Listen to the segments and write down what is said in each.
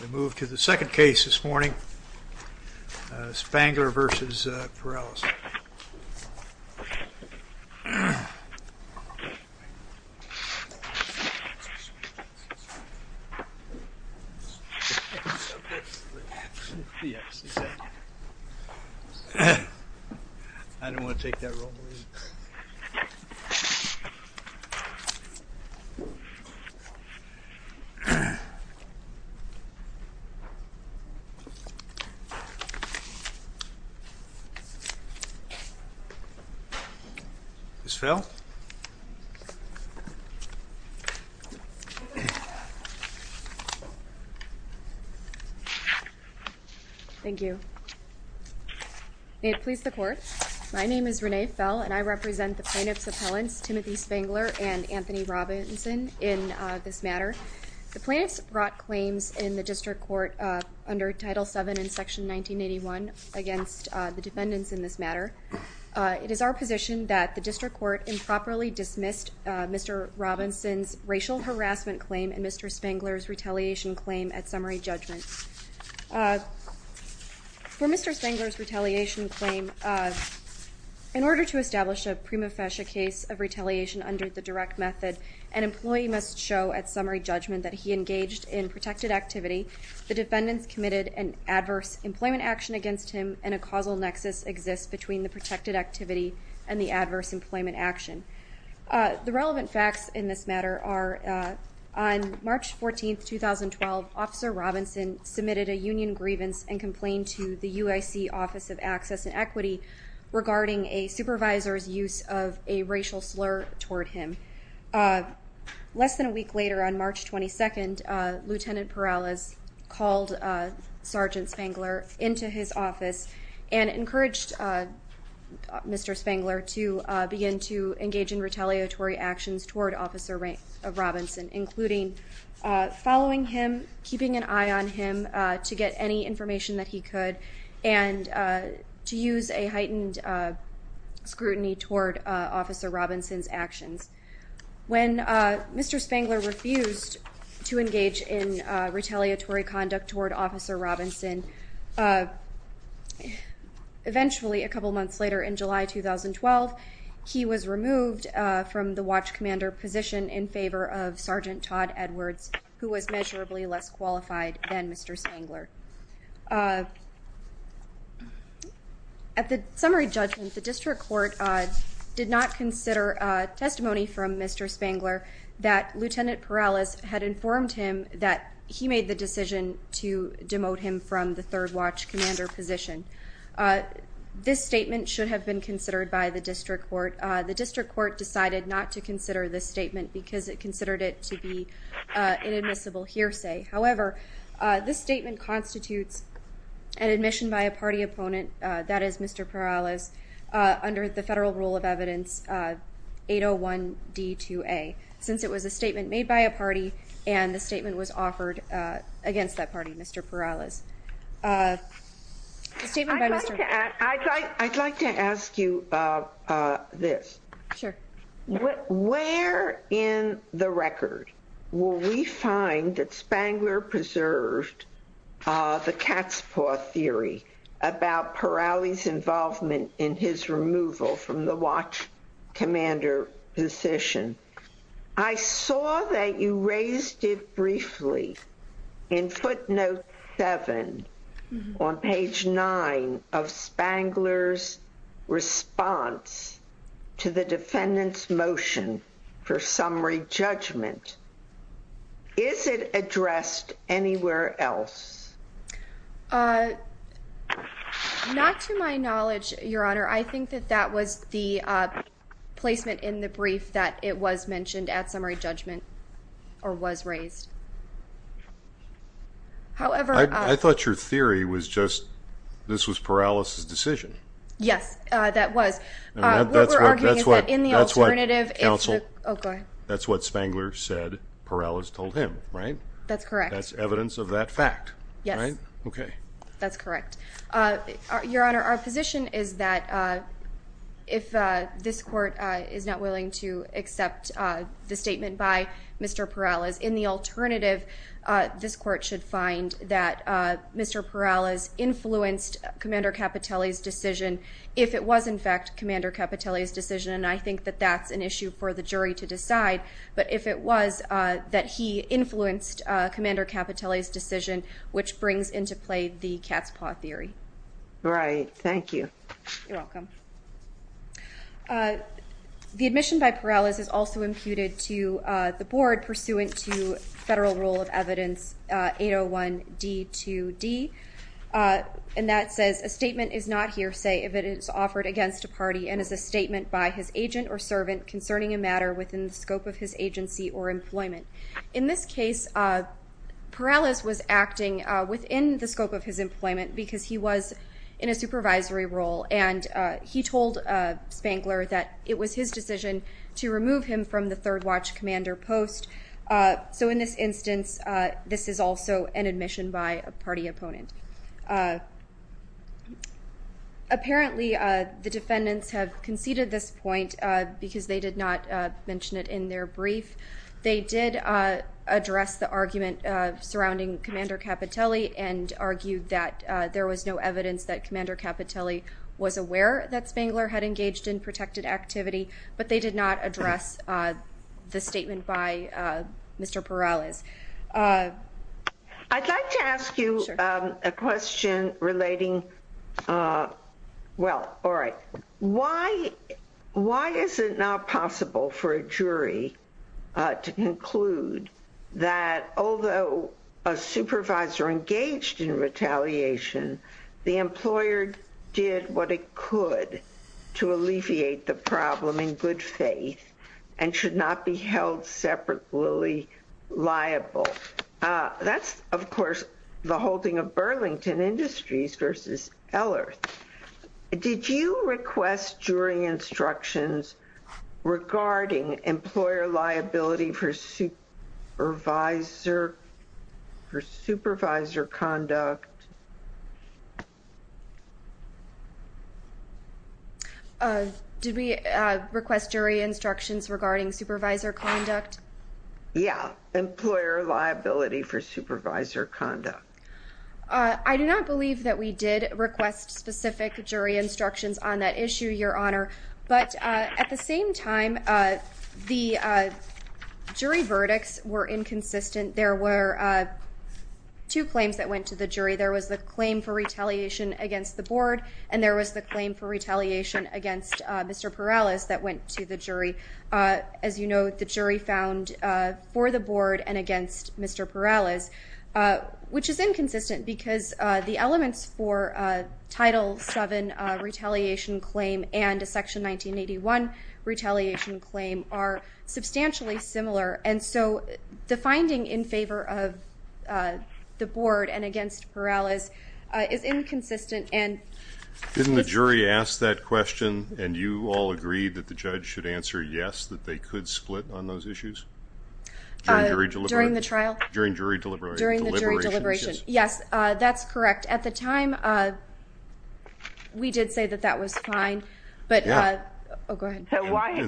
We move to the second case this morning, Spangler v. Perales. Ms. Fell? Thank you. May it please the Court, my name is Renee Fell and I represent the plaintiff's appellants Timothy Spangler and Anthony Robinson in this matter. The plaintiff's brought claims in the District Court under Title VII in Section 1981 against the defendants in this matter. It is our position that the District Court improperly dismissed Mr. Robinson's racial harassment claim and Mr. Spangler's retaliation claim at summary judgment. For Mr. Spangler's retaliation claim, in order to establish a prima facie case of retaliation under the direct method, an employee must show at summary judgment that he engaged in protected activity, the defendants committed an adverse employment action against him, and a causal nexus exists between the protected activity and the adverse employment action. The relevant facts in this matter are on March 14, 2012, Officer Robinson submitted a union grievance and complained to the UIC Office of Access and Equity regarding a supervisor's use of a racial slur toward him. Less than a week later, on March 22, Lt. Perales called Sgt. Spangler into his office and encouraged Mr. Spangler to begin to engage in retaliatory actions toward Officer Robinson, including following him, keeping an eye on him to get any information that he could, and to use a heightened scrutiny toward Officer Robinson's actions. When Mr. Spangler refused to engage in retaliatory conduct toward Officer Robinson, eventually a couple months later in July 2012, he was removed from the watch commander position in favor of Sgt. Todd Edwards, who was measurably less qualified than Mr. Spangler. At the summary judgment, the District Court did not consider testimony from Mr. Spangler that Lt. Perales had informed him that he made the decision to demote him from the third watch commander position. This statement should have been considered by the District Court. The District Court decided not to consider this statement because it would have been a violation of the federal rule of evidence 801-D-2A, since it was a statement made by a party and the statement was offered against that party, Mr. Perales. I'd like to ask you this. Where in the record will we find that Spangler preserved the Catspaw theory about Perales' involvement in his removal from the watch commander position? I saw that you raised it briefly in footnote 7 on page 9 of Spangler's response to the defendant's motion for summary judgment. Is it addressed anywhere else? Not to my knowledge, Your Honor. I think that that was the placement in the brief that it was mentioned at summary judgment or was raised. I thought your theory was just this was Perales' decision. Yes, that was. What we're arguing is that in the alternative, it's the... Yes. Okay. That's correct. Your Honor, our position is that if this court is not willing to accept the statement by Mr. Perales, in the alternative, this court should find that Mr. Perales influenced commander Capitelli's decision if it was, in fact, commander Capitelli's decision, and I think that that's an issue for the jury to decide. But if it was that he influenced commander Capitelli's decision, which brings into play the Catspaw theory. Right. Thank you. You're welcome. The admission by Perales is also imputed to the board pursuant to federal rule of evidence 801D2D, and that says, a statement is not hearsay if it is offered against a party and is a statement by his agent or servant concerning a matter within the scope of his agency or employment. In this case, Perales was acting within the scope of his employment because he was in a supervisory role, and he told Spangler that it was his decision to remove him from the third watch commander post. So in this instance, this is also an admission by a party opponent. Apparently, the defendants have conceded this point because they did not mention it in their brief. They did address the argument surrounding commander Capitelli and argued that there was no evidence that commander Capitelli was aware that Spangler had engaged in protected activity, but they did not address the statement by Mr. Perales. I'd like to ask you a question relating, well, all right, why is it not possible for a jury to conclude that although a supervisor engaged in retaliation, the employer did what it could to alleviate the problem in good faith and should not be held separately liable? That's, of course, the holding of Burlington Industries versus Eller. Did you request jury instructions regarding employer liability for supervisor conduct? Did we request jury instructions regarding supervisor conduct? Yeah, employer liability for supervisor conduct. I do not believe that we did request specific jury instructions on that issue, Your Honor. But at the same time, the jury verdicts were inconsistent. There were two claims that went to the jury. There was the claim for retaliation against the board, and there was the claim for retaliation against Mr. Perales that went to the jury. As you know, the jury found for the board and against Mr. Perales, which is inconsistent, because the elements for a Title VII retaliation claim and a Section 1981 retaliation claim are substantially similar. And so the finding in favor of the board and against Perales is inconsistent. Didn't the jury ask that question, and you all agreed that the judge should answer yes, that they could split on those issues? During the trial? During the jury deliberation. Yes, that's correct. At the time, we did say that that was fine. And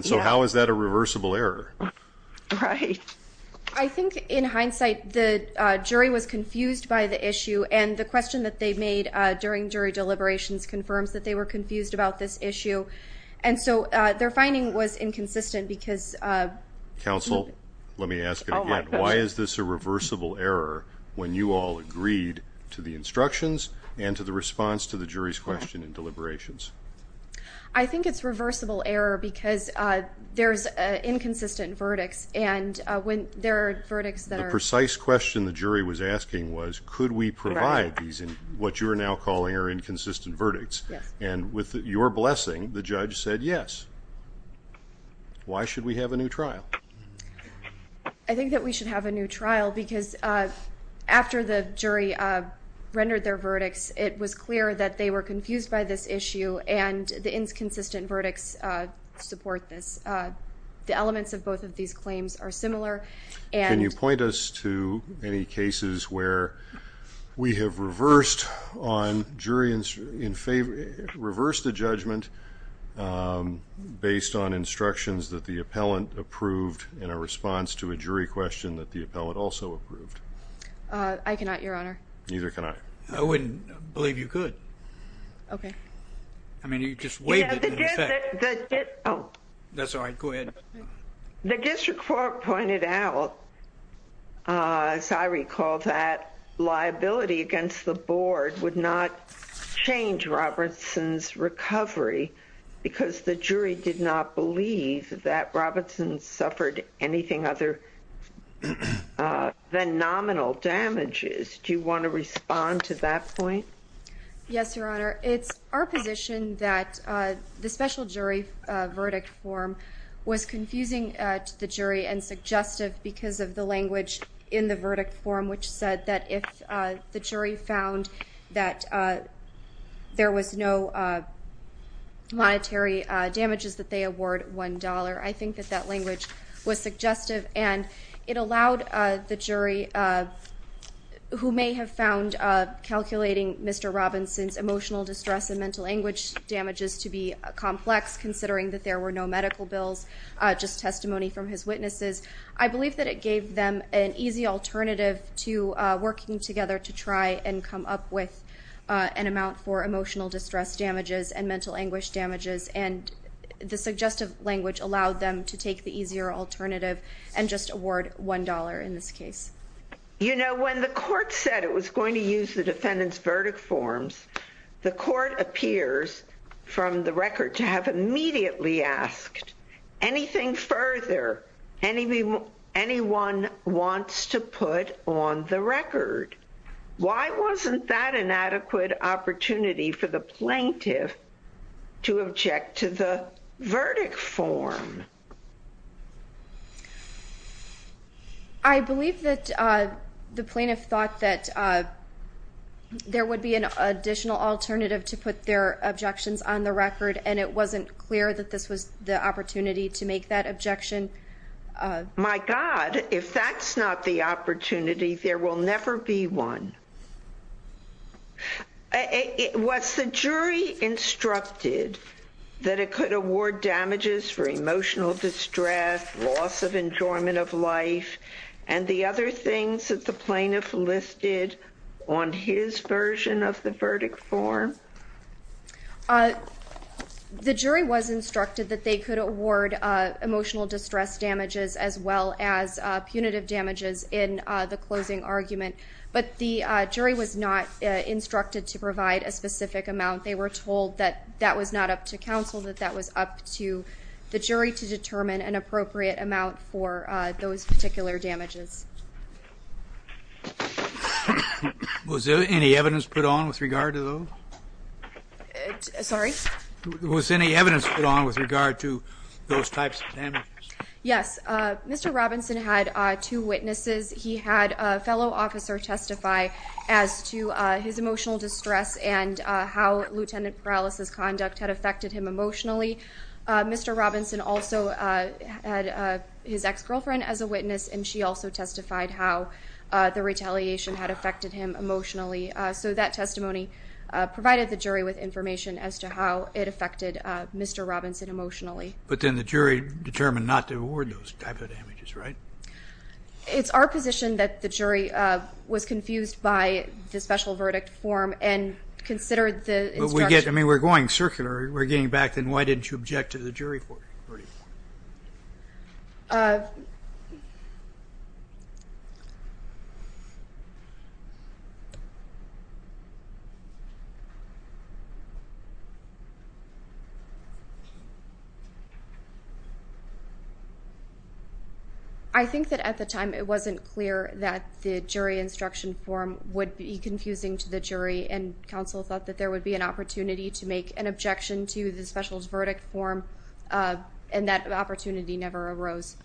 so how is that a reversible error? I think in hindsight, the jury was confused by the issue, and the question that they made during jury deliberations confirms that they were confused about this issue. And so their finding was inconsistent because... Counsel, let me ask it again. Why is this a reversible error when you all agreed to the instructions and to the response to the jury's question in deliberations? I think it's a reversible error because there's inconsistent verdicts, and when there are verdicts that are... The precise question the jury was asking was, could we provide these, what you're now calling, inconsistent verdicts? And with your blessing, the judge said yes. Why should we have a new trial? I think that we should have a new trial because after the jury rendered their verdicts, it was clear that they were confused by this issue and the inconsistent verdicts support this. The elements of both of these claims are similar. Can you point us to any cases where we have reversed the judgment based on instructions that the appellant approved in a response to a jury question that the appellant also approved? I cannot, Your Honor. Neither can I. I wouldn't believe you could. I mean, you just waived it in effect. The district court pointed out, as I recall, that liability against the board would not change Robertson's recovery because the jury did not believe that Robertson suffered anything other than nominal damages. Do you want to respond to that point? Yes, Your Honor. It's our position that the special jury verdict form was confusing to the jury and suggestive because of the language in the verdict form which said that if the jury found that there was no monetary damages that they award $1, I think that that language was suggestive and it allowed the jury who may have found calculating Mr. Robinson's emotional distress and mental language damages to be complex considering that there were no medical bills, just testimony from his witnesses. I believe that it gave them an easy alternative to working together to try and come up with an amount for emotional distress damages and mental anguish damages, and the suggestive language allowed them to take the easier alternative and just award $1 in this case. You know, when the court said it was going to use the defendant's verdict forms, the court appears from the record to have immediately asked anything further anyone wants to put on the record. Why wasn't that an adequate opportunity for the plaintiff to object to the verdict form? I believe that the plaintiff thought that there would be an additional alternative to put their objections on the record and it wasn't clear that this was the opportunity to make that objection. My God, if that's not the opportunity, there will never be one. Was the jury instructed that it could award damages for emotional distress, loss of enjoyment of life, and the other things that the plaintiff listed on his version of the verdict form? The jury was instructed that they could award emotional distress damages as well as punitive damages in the closing argument, but the jury was not instructed to provide a specific amount. They were told that that was not up to counsel, that that was up to the jury to determine an appropriate amount for those particular damages. Was there any evidence put on with regard to those? Was any evidence put on with regard to those types of damages? Yes. Mr. Robinson had two witnesses. He had a fellow officer testify as to his emotional distress and how Lt. Perales' conduct had affected him emotionally. Mr. Robinson also had his ex-girlfriend as a witness and she also testified how the retaliation had affected him emotionally. So that testimony provided the jury with information as to how it affected Mr. Robinson emotionally. But then the jury determined not to award those types of damages, right? It's our position that the jury was confused by the special verdict form and considered the instruction... But we get, I mean, we're going circular. We're getting back to why didn't you object to the jury verdict form? I think that at the time it wasn't clear that the jury instruction form would be confusing to the jury and counsel thought that there would be an opportunity to make an objection to the special verdict form and that opportunity never arose.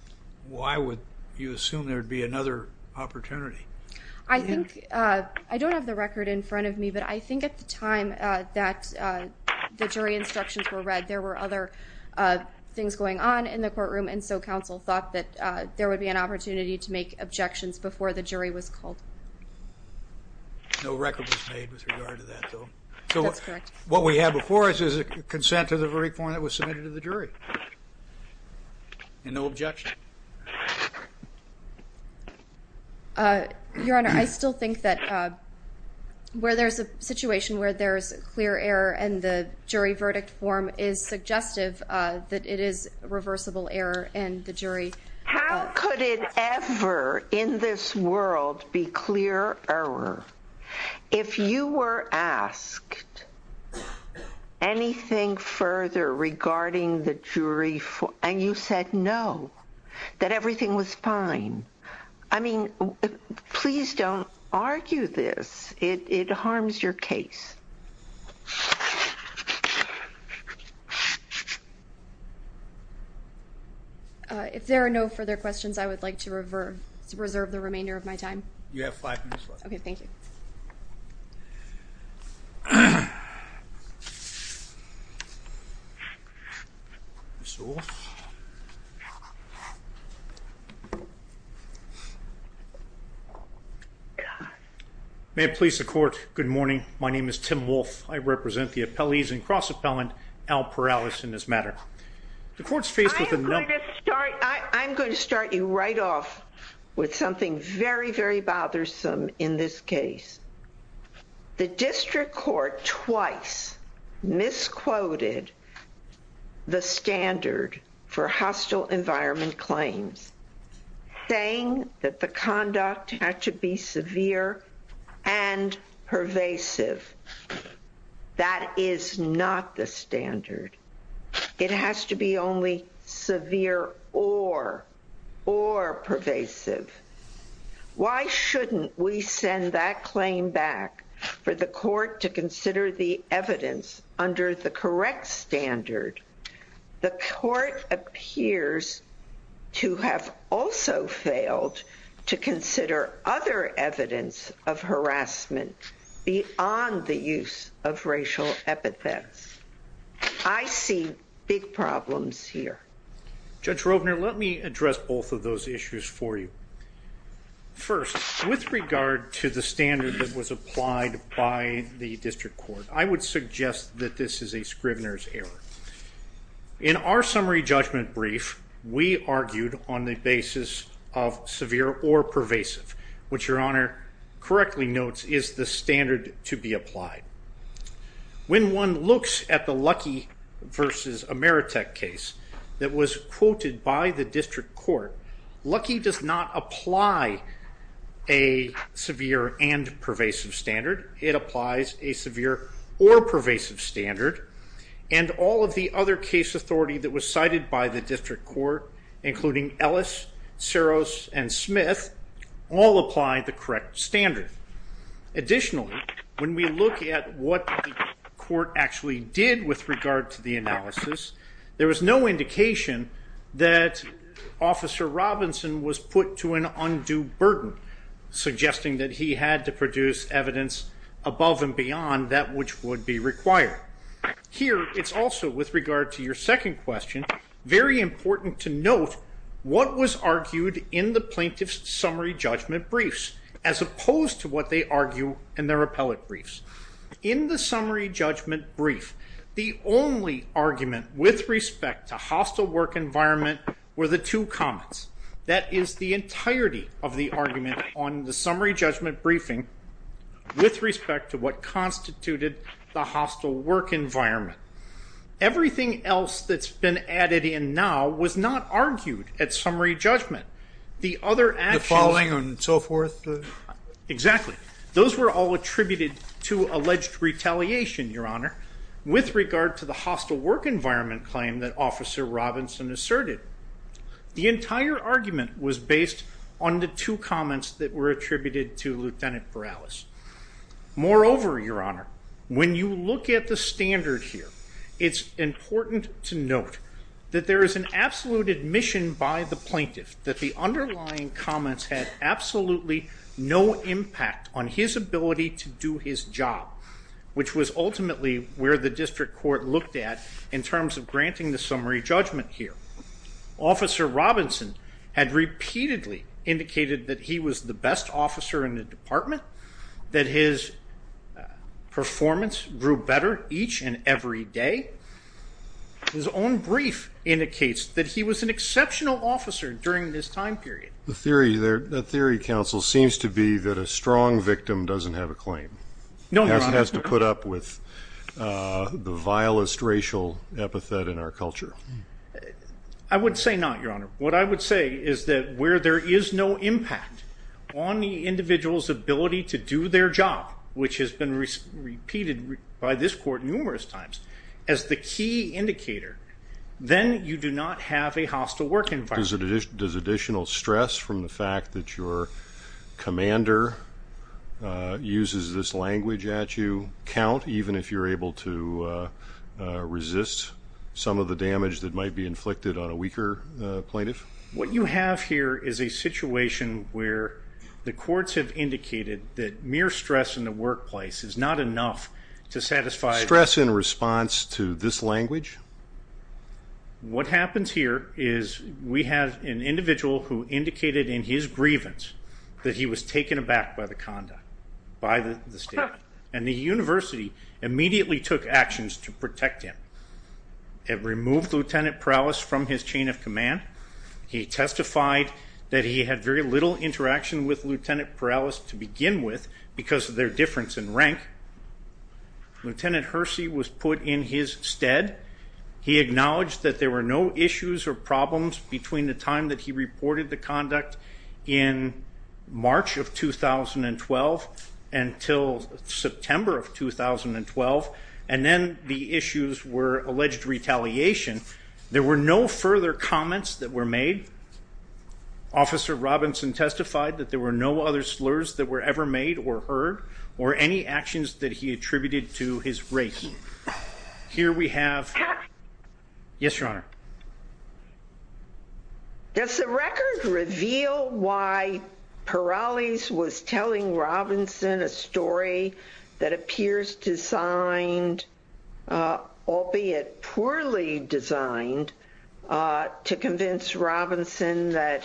Why would you assume there would be another opportunity? I think, I don't have the record in front of me, but I think at the time that the jury instructions were read there were other things going on in the courtroom and so counsel thought that there would be an opportunity to make objections before the jury was called. No record was made with regard to that though. That's correct. So what we have before us is a consent to the verdict form that was submitted to the jury. And no objection? Your Honor, I still think that where there's a situation where there's clear error and the jury did ever in this world be clear error, if you were asked anything further regarding the jury and you said no, that everything was fine, I mean, please don't argue this. It harms your case. If there are no further questions, I would like to reserve the remainder of my time. You have five minutes left. Okay, thank you. May it please the Court, good morning. My name is Tim Wolfe. I represent the appellees and cross-appellant Al Perales in this matter. I'm going to start you right off with something very, very bothersome in this case. The district court twice misquoted the standard for hostile environment claims, saying that the conduct had to be severe and pervasive. That is not the standard. It has to be only severe or pervasive. Why shouldn't we send that claim back for the court to consider the evidence under the correct standard? The court appears to have also failed to consider other evidence of hostile environment claims. I see big problems here. Judge Rovner, let me address both of those issues for you. First, with regard to the standard that was applied by the district court, I would suggest that this is a Scrivener's error. In our summary judgment brief, we argued on the basis of severe or pervasive, which your Honor correctly notes is the standard to be applied. When one looks at the Lucky v. Ameritech case that was quoted by the district court, Lucky does not apply a severe and pervasive standard. It applies a severe or pervasive standard, and all of the other case authority that was cited by the district court, including Ellis, Seros, and Smith, all apply the correct standard. Additionally, when we look at what the court actually did with regard to the analysis, there was no indication that Officer Robinson was put to an undue burden, suggesting that he had to produce evidence above and beyond that which would be required. Here, it's also, with regard to your second question, very important to note what was argued in the plaintiff's summary judgment briefs, as opposed to what they argue in their appellate briefs. In the summary judgment brief, the only argument with respect to hostile work environment were the two comments. That is the entirety of the argument on the summary judgment briefing with respect to what constituted the hostile work environment. Everything else that's been added in now was not argued at summary judgment. The following and so forth? Exactly. Those were all attributed to alleged retaliation, Your Honor, with regard to the hostile work environment claim that Officer Robinson asserted. The entire argument was based on the two comments that were attributed to Lieutenant Borales. Moreover, Your Honor, when you look at the standard here, it's important to note that there is an absolute admission by the plaintiff that the underlying comments had absolutely no impact on his ability to do his job, which was ultimately where the district court looked at in terms of granting the summary judgment here. Officer Robinson had repeatedly indicated that he was the best officer in the department, that his performance grew better each and every day. His own brief indicates that he was an exceptional officer during this time period. The theory, counsel, seems to be that a strong victim doesn't have a claim. No, Your Honor. Has to put up with the vilest racial epithet in our culture. I would say not, Your Honor. What I would say is that where there is no impact on the individual's ability to do their job, which has been repeated by this court numerous times, as the key indicator, then you do not have a hostile work environment. Does additional stress from the fact that your commander uses this language at you count, even if you're able to resist some of the damage that might be inflicted on a weaker that mere stress in the workplace is not enough to satisfy... Stress in response to this language? What happens here is we have an individual who indicated in his grievance that he was taken aback by the conduct, by the staff, and the university immediately took actions to protect him. It removed Lieutenant Perales from his chain of command. He testified that he had very little interaction with Lieutenant Perales to begin with because of their difference in rank. Lieutenant Hersey was put in his stead. He acknowledged that there were no issues or problems between the time that he reported the conduct in March of 2012 until September of 2012, and then the issues were alleged retaliation. There were no further comments that were made. Officer Robinson testified that there were no other slurs that were ever made or heard or any actions that he attributed to his rank. Here we have... Yes, Your Honor. Does the record reveal why it was designed, albeit poorly designed, to convince Robinson that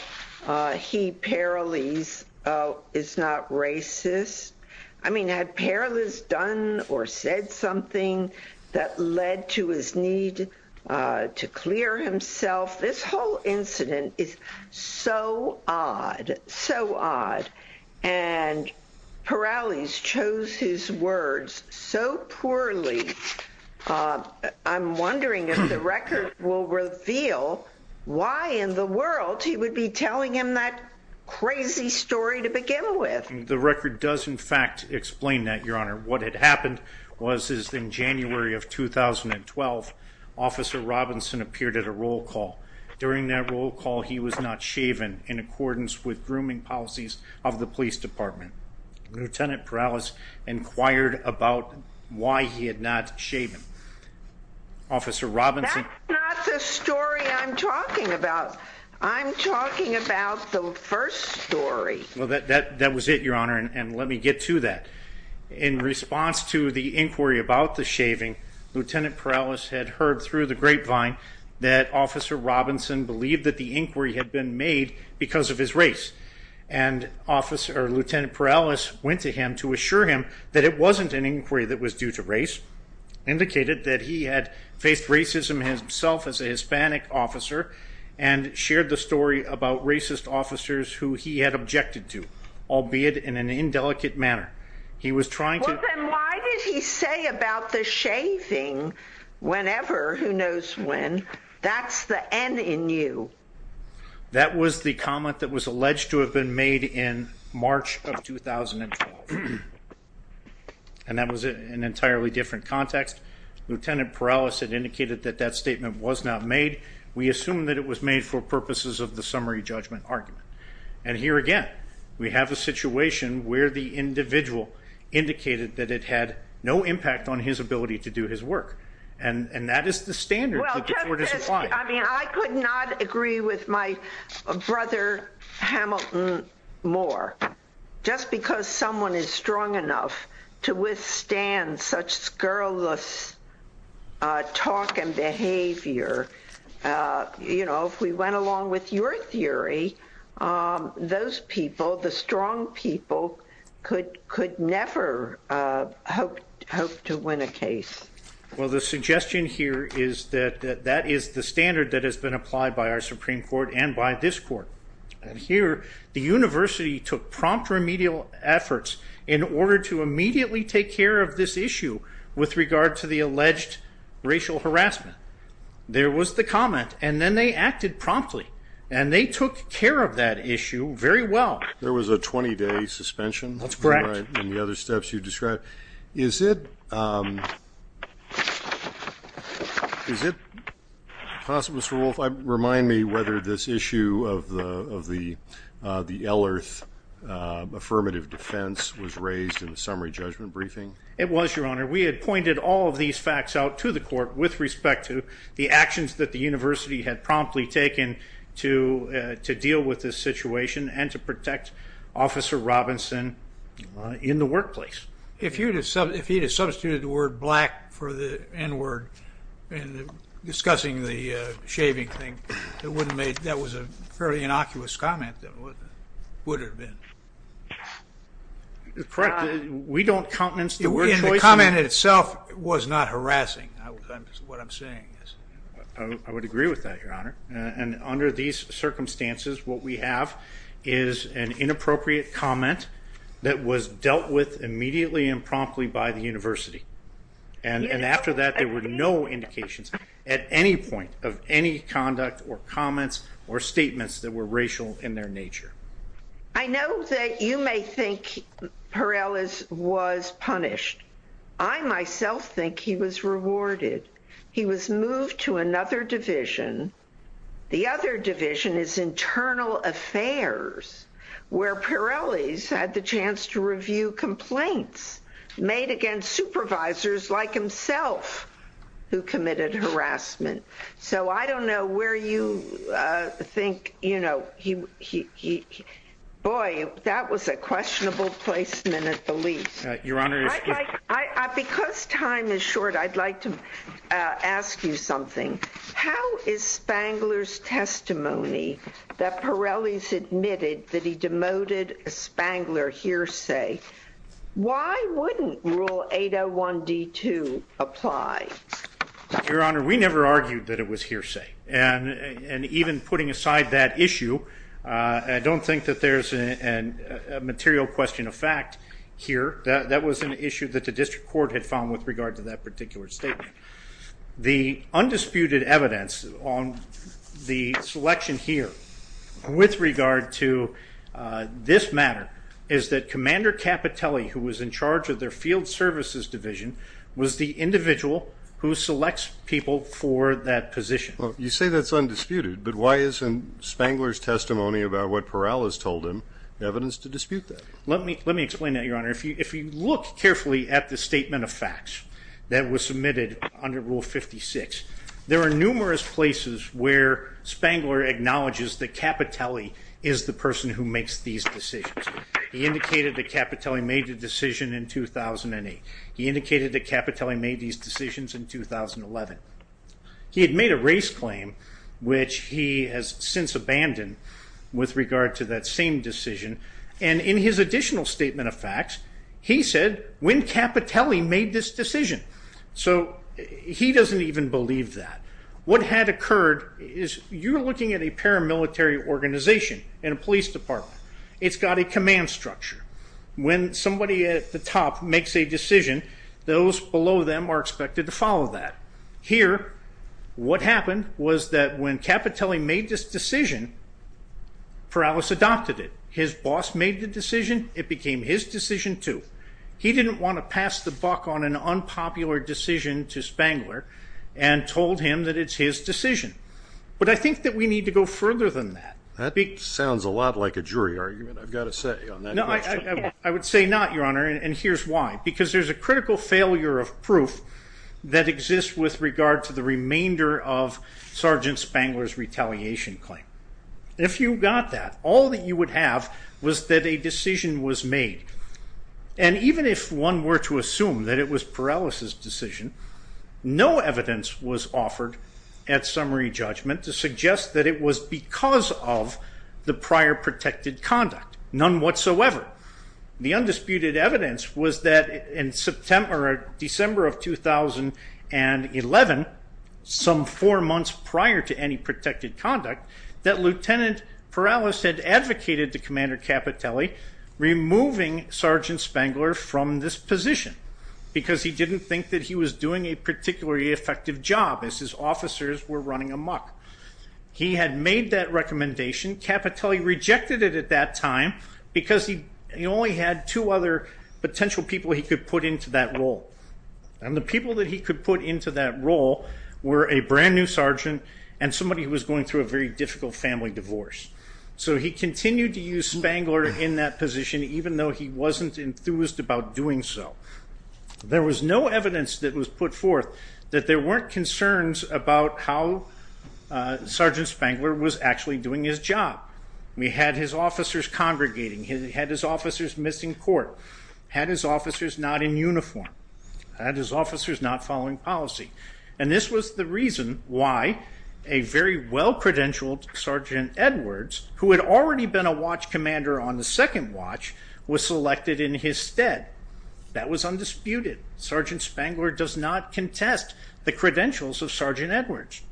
he, Perales, is not racist? I mean, had Perales done or said something that led to his need to clear himself? This whole incident is so odd. And Perales chose his words so poorly. I'm wondering if the record will reveal why in the world he would be telling him that crazy story to begin with. The record does, in fact, explain that, Your Honor. What had happened was in January of 2012, Officer Robinson appeared at a roll call. During that roll call, he was not shaven in accordance with grooming policies of the police department. Lieutenant Perales inquired about why he had not shaven. Officer Robinson... That's not the story I'm talking about. I'm talking about the first story. Well, that was it, Your Honor. And let me get to that. In response to the inquiry about the shaving, Lieutenant Perales had heard through the grapevine that Officer Robinson believed that the inquiry had been made because of his race. And Lieutenant Perales went to him to assure him that it wasn't an inquiry that was due to race, indicated that he had faced racism himself as a Hispanic officer, and shared the story about racist officers who he had objected to, albeit in an indelicate manner. He was trying to... Well, then why did he say about the shaving whenever, who knows when, that's the N in you? That was the comment that was alleged to have been made in March of 2012. And that was an entirely different context. Lieutenant Perales had indicated that that statement was not made. We assume that it was made for purposes of the summary judgment argument. And here again, we have a situation where the individual indicated that it had no impact on his ability to do his work. And that is the standard that the court is applying. I mean, I could not agree with my brother Hamilton more. Just because someone is strong enough to withstand such scurrilous talk and behavior, you know, if we went along with your theory, those people, the strong people could never hope to win a case. Well, the suggestion here is that that is the standard that has been applied by our Supreme Court and by this court. And here, the university took prompt remedial efforts in order to immediately take care of this issue with regard to the alleged racial harassment. There was the comment, and then they acted promptly. And they took care of that issue very well. There was a 20-day suspension. That's correct. And the other steps you described. Is it possible, Mr. Wolfe, remind me whether this issue of the Elearth affirmative defense was raised in the summary judgment briefing? It was, Your Honor. We had pointed all of these facts out to the court with respect to the actions that the university had promptly taken to deal with this situation and to protect Officer Robinson in the workplace. If he had substituted the word black for the n-word in discussing the shaving thing, that was a fairly innocuous comment. It would have been. Correct. We don't countenance the word choice. The comment itself was not harassing. I would agree with that, Your Honor. And under these circumstances, what we have is an inappropriate comment that was dealt with immediately and promptly by the university. And after that, there were no indications at any point of any conduct or comments or statements that were racial in their nature. I know that you may think Pirellis was punished. I myself think he was rewarded. He was moved to another division. The other division is internal affairs, where Pirellis had the chance to review complaints made against supervisors like himself who committed harassment. So I don't know where you think, you know, boy, that was a questionable placement at the least. Your Honor, because time is short, I'd like to ask you something. How is Spangler's testimony that Pirellis admitted that he demoted Spangler hearsay? Why wouldn't Rule 801D2 apply? Your Honor, we never argued that it was hearsay. And even putting aside that issue, I don't think that there's a material question of fact here. That was an issue that the District Court had found with regard to that particular statement. The undisputed evidence on the selection here with regard to this matter is that Commander Capitelli, who was in charge of their field services division, was the individual who selects people for that position. You say that's undisputed, but why isn't Spangler's testimony about what Pirellis told him evidence to dispute that? Let me explain that, Your Honor. If you look carefully at the statement of facts that was submitted under Rule 56, there are numerous places where Spangler acknowledges that Capitelli is the person who makes these decisions. He indicated that Capitelli made the decision in 2008. He indicated that Capitelli made these decisions in 2011. He had made a race claim, which he has since abandoned with regard to that same decision. And in his additional statement of facts, he said, when Capitelli made this decision. So he doesn't even believe that. What had occurred is you're looking at a paramilitary organization in a police department. It's got a command structure. When somebody at the top makes a decision, those below them are expected to follow that. Here, what happened was that when Capitelli made this decision, Pirellis adopted it. His boss made the decision. It became his decision, too. He didn't want to pass the buck on an unpopular decision to Spangler and told him that it's his decision. But I think that we need to go further than that. That sounds a lot like a jury argument, I've got to say. I would say not, Your Honor, and here's why. Because there's a critical failure of proof that exists with regard to the remainder of Sergeant Spangler's retaliation claim. If you got that, all that you would have was that a decision was made. And even if one were to assume that it was Pirellis's decision, no evidence was offered at summary whatsoever. The undisputed evidence was that in December of 2011, some four months prior to any protected conduct, that Lieutenant Pirellis had advocated to Commander Capitelli removing Sergeant Spangler from this position because he didn't think that he was doing a particularly effective job as his officers were running amok. He had made that recommendation. Capitelli rejected it at that time because he only had two other potential people he could put into that role. And the people that he could put into that role were a brand new sergeant and somebody who was going through a very difficult family divorce. So he continued to use Spangler in that position, even though he wasn't enthused about doing so. There was no evidence that was put forth that there weren't concerns about how Sergeant Spangler was actually doing his job. He had his officers congregating. He had his officers missing court. He had his officers not in uniform. He had his officers not following policy. And this was the reason why a very well credentialed Sergeant Edwards, who had already been a watch commander, was undisputed. Sergeant Spangler does not contest the credentials of Sergeant Edwards.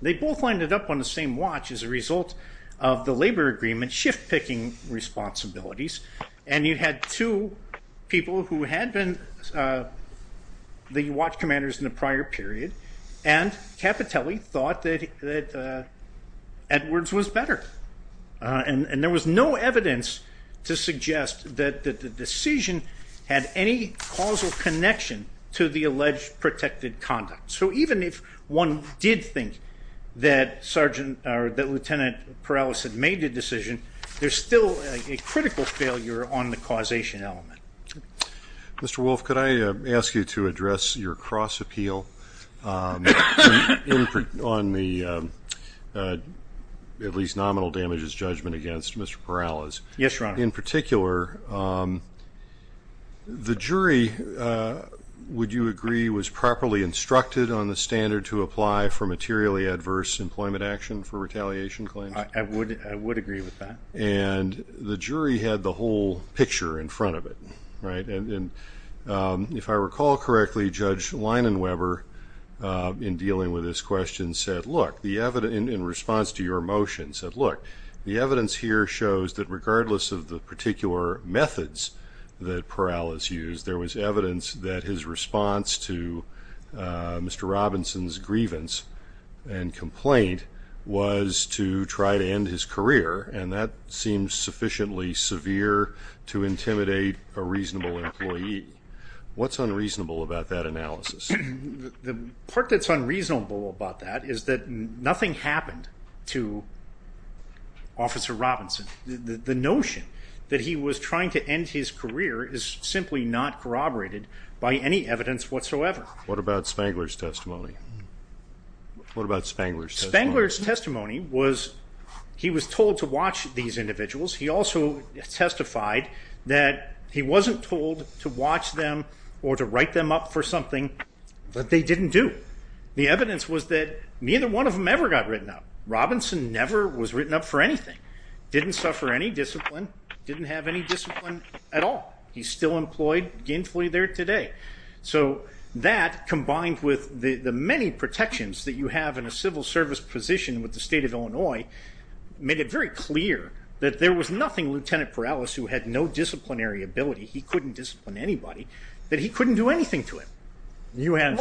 They both ended up on the same watch as a result of the labor agreement shift picking responsibilities. And you had two people who had been the watch commanders in the prior period, and Capitelli thought that Edwards was better. And there was no evidence to suggest that the decision had any causal connection to the alleged protected conduct. So even if one did think that Lieutenant Perales had made the decision, there's still a critical failure on the causation element. Mr. Wolf, could I ask you to address your cross appeal on the at least nominal damages judgment against Mr. Perales? Yes, Your Honor. In particular, the jury, would you agree, was properly instructed on the standard to apply for materially adverse employment action for retaliation claims? I would agree with that. And the jury had the whole picture in front of it. If I recall correctly, Judge Leinenweber, in dealing with this question, said, in response to your motion, said, look, the evidence here shows that regardless of the particular methods that Perales used, there was evidence that his response to Mr. Robinson's grievance and complaint was to try to end his career. And that seems sufficiently severe to intimidate a reasonable employee. What's unreasonable about that analysis? The part that's unreasonable about that is that nothing happened to Officer Robinson. The notion that he was trying to end his career is simply not corroborated by any evidence whatsoever. What about Spangler's testimony? What about Spangler's testimony? Spangler's testimony was he was told to watch these individuals. He also testified that he wasn't told to watch them or to write them up for something that they didn't do. The evidence was that neither one of them ever got written up. Robinson never was written up for anything, didn't suffer any discipline, didn't have any discipline at all. He's still employed gainfully there today. So that combined with the many protections that you have in a civil service position with the state of Illinois made it very clear that there was nothing Lieutenant Perales who had no disciplinary ability, he couldn't discipline anybody, that he couldn't do anything to him.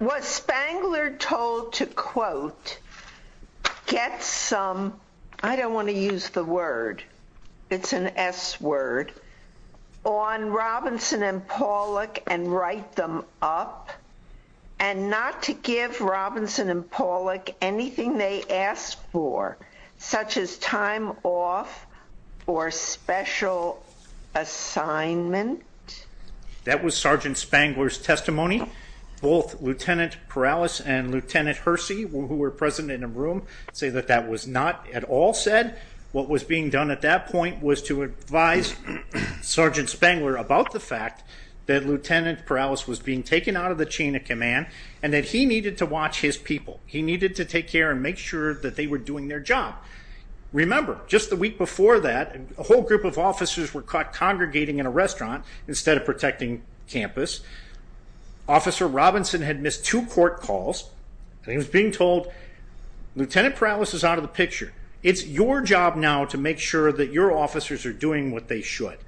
Was Spangler told to quote, quote, I don't want to use the word, it's an s-word. On Robinson and Pawlik and write them up and not to give Robinson and Pawlik anything they asked for. Such as time off or special assignment. That was Sgt. Spangler's testimony. Both Lt. Perales and Lt. Hersey who were present in the room say that that was not at all said. What was being done at that point was to advise Sgt. Spangler about the fact that Lt. Perales was being taken out of the chain of command and that he needed to watch his people. He needed to take care and make sure that they were doing their job. Remember, just the week before that, a whole group of officers were caught congregating in a restaurant instead of protecting campus. Officer Robinson had missed two court calls. He was being told, Lt. Perales is out of the picture. It's your job now to make sure that your officers are doing what they should.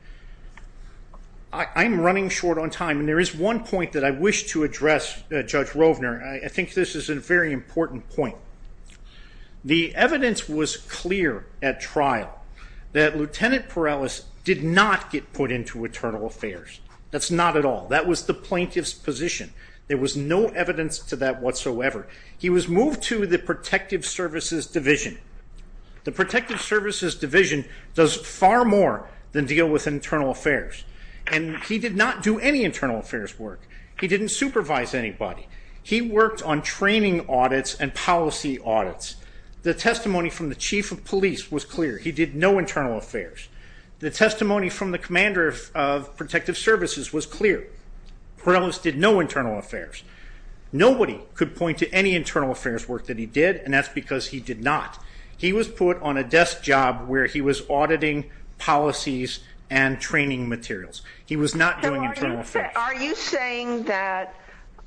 I'm running short on time and there is one point that I wish to address Judge Rovner. I think this is a very important point. The evidence was clear at trial that Lt. Perales did not get put into Internal Affairs. That's not at all. That was the plaintiff's position. There was no evidence to that whatsoever. He was moved to the Protective Services Division. The Protective Services Division does far more than deal with Internal Affairs. He did not do any Internal Affairs work. He didn't supervise anybody. He worked on training audits and policy audits. The testimony from the Chief of Police was clear. He did no Internal Affairs. The testimony from the Commander of Protective Services was clear. Perales did no Internal Affairs. Nobody could point to any Internal Affairs work that he did and that's because he did not. He was put on a desk job where he was auditing policies and training materials. He was not doing Internal Affairs. Are you saying that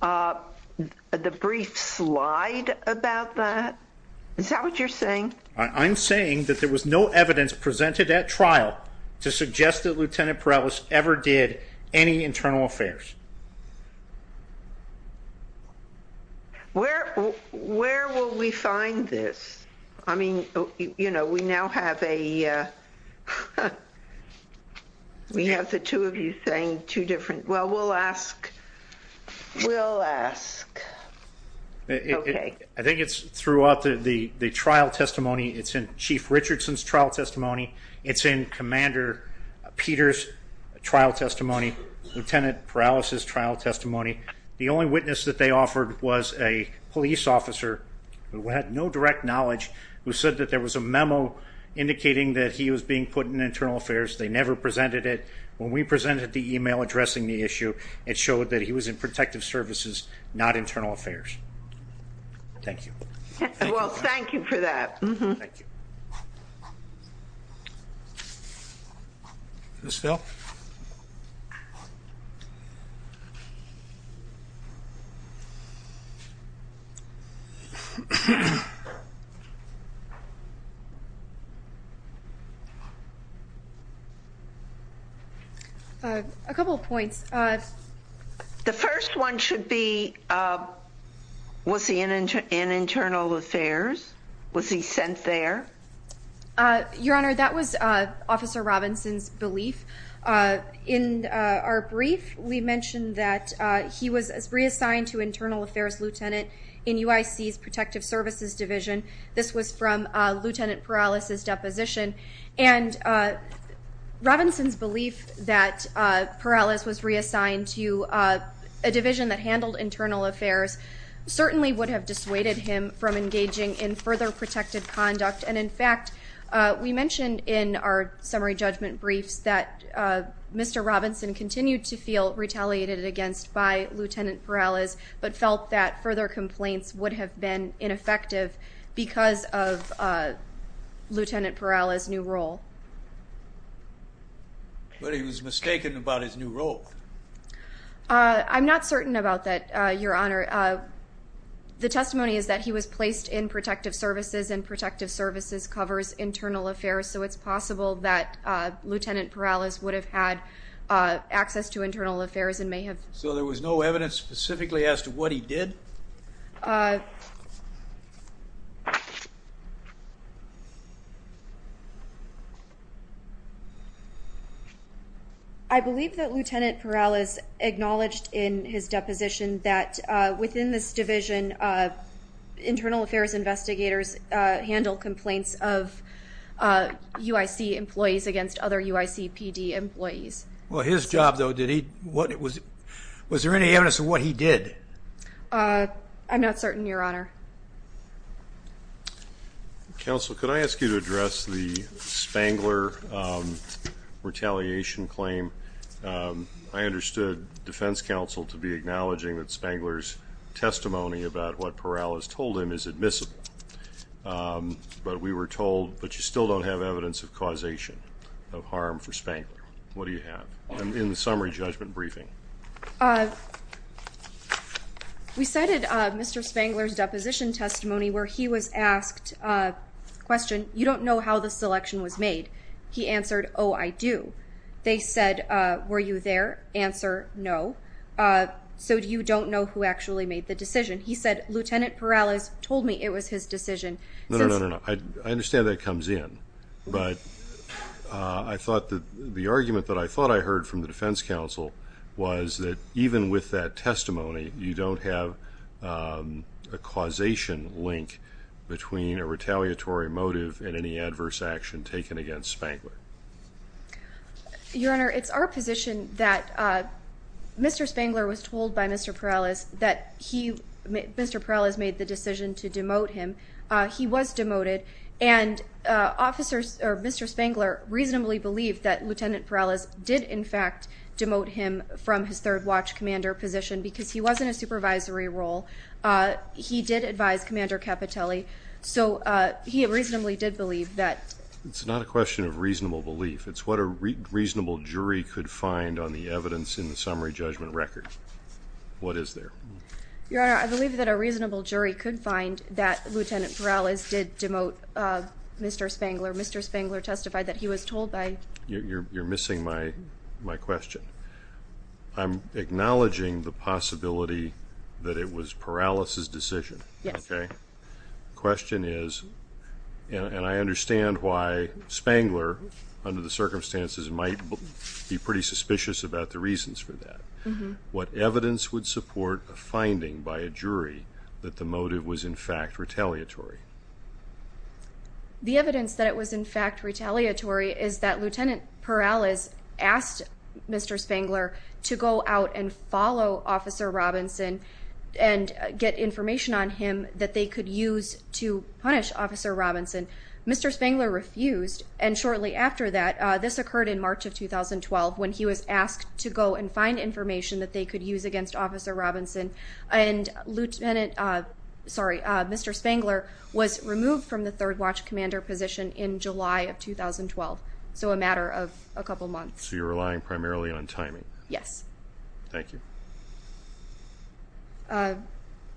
the brief slide about that? Is that what you're saying? I'm saying that there was no evidence presented at trial to suggest that Lt. Perales ever did any Internal Affairs. Where will we find this? We have the two of you saying two different things. I think it's throughout the trial testimony. It's in Chief Richardson's trial testimony. The only witness that they offered was a police officer who had no direct knowledge who said that there was a memo indicating that he was being put in Internal Affairs. They never presented it. When we presented the email addressing the issue, it showed that he was in Protective Services, not Internal Affairs. Thank you. Well, thank you for that. Thank you. A couple of points. The first one should be was he in Internal Affairs? Was he sent there? Your Honor, that was Officer Robinson's belief. In our brief, we mentioned that he was reassigned to Internal Affairs Lieutenant in UIC's Protective Services Division. This was from Lt. Perales's deposition. Robinson's belief that Perales was reassigned to a division that handled Internal Affairs certainly would have dissuaded him from engaging in further protective conduct. In fact, we mentioned in our summary judgment briefs that Mr. Robinson continued to feel retaliated against by Lt. Perales, but felt that further Perales's new role. But he was mistaken about his new role? I'm not certain about that, Your Honor. The testimony is that he was placed in Protective Services and Protective Services covers Internal Affairs, so it's possible that Lt. Perales would have had access to Internal Affairs and may have... So there was no evidence specifically as to what he did? I believe that Lt. Perales acknowledged in his deposition that within this division Internal Affairs investigators handle complaints of UIC employees against other UIC PD employees. Well, his job though, was there any evidence of what he did? I'm not certain, Your Honor. Counsel, could I ask you to address the Spangler retaliation claim? I understood Defense Counsel to be acknowledging that Spangler's testimony about what Perales told him is admissible. But we were told, but you still don't have evidence of causation of harm for Spangler. What do you have in the summary judgment briefing? We cited Mr. Spangler's deposition testimony where he was asked a question, You don't know how the selection was made? He answered, Oh, I do. They said, Were you there? Answer, No. So you don't know who actually made the decision? He said, Lt. Perales told me it was his decision. I understand that comes in, but I thought the argument that I thought I heard from the Defense Counsel was that even with that testimony, you don't have a causation link between a retaliatory motive and any adverse action taken against Spangler. Your Honor, it's our position that Mr. Spangler was told by Mr. Perales that he Mr. Perales made the decision to demote him. He was demoted and officers or Mr. Spangler reasonably believed that Lt. Perales did in fact demote him from his third watch commander position because he wasn't a supervisory role. He did advise Commander Capitelli. So he reasonably did believe that it's not a question of reasonable belief. It's what a reasonable jury could find on the evidence in the summary judgment record. What is there? Your Honor, I believe that a reasonable jury could find that Lt. Perales did demote Mr. Spangler. Mr. Spangler testified that he was told by... You're missing my question. I'm acknowledging the possibility that it was Perales' decision. Yes. Okay. The question is and I understand why Spangler under the circumstances might be pretty suspicious about the reasons for that. What evidence would support a finding by a jury that the motive was in fact retaliatory? The evidence that it was in fact retaliatory is that Lt. Perales asked Mr. Spangler to go out and follow Officer Robinson and get information on him that they could use to punish Officer Robinson. Mr. Spangler refused and shortly after that this occurred in March of 2012 when he was asked to go and find information that they could use against Officer Robinson and Mr. Spangler was removed from the third watch commander position in July of 2012. So a matter of a couple months. So you're relying primarily on timing. Yes. Thank you.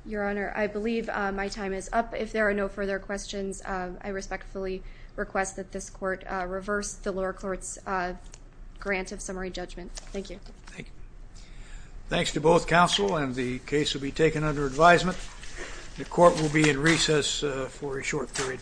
Your Honor, I believe my time is up. If there are no further questions, I respectfully request that this court reverse the lower court's grant of summary judgment. Thank you. Thanks to both counsel and the jury.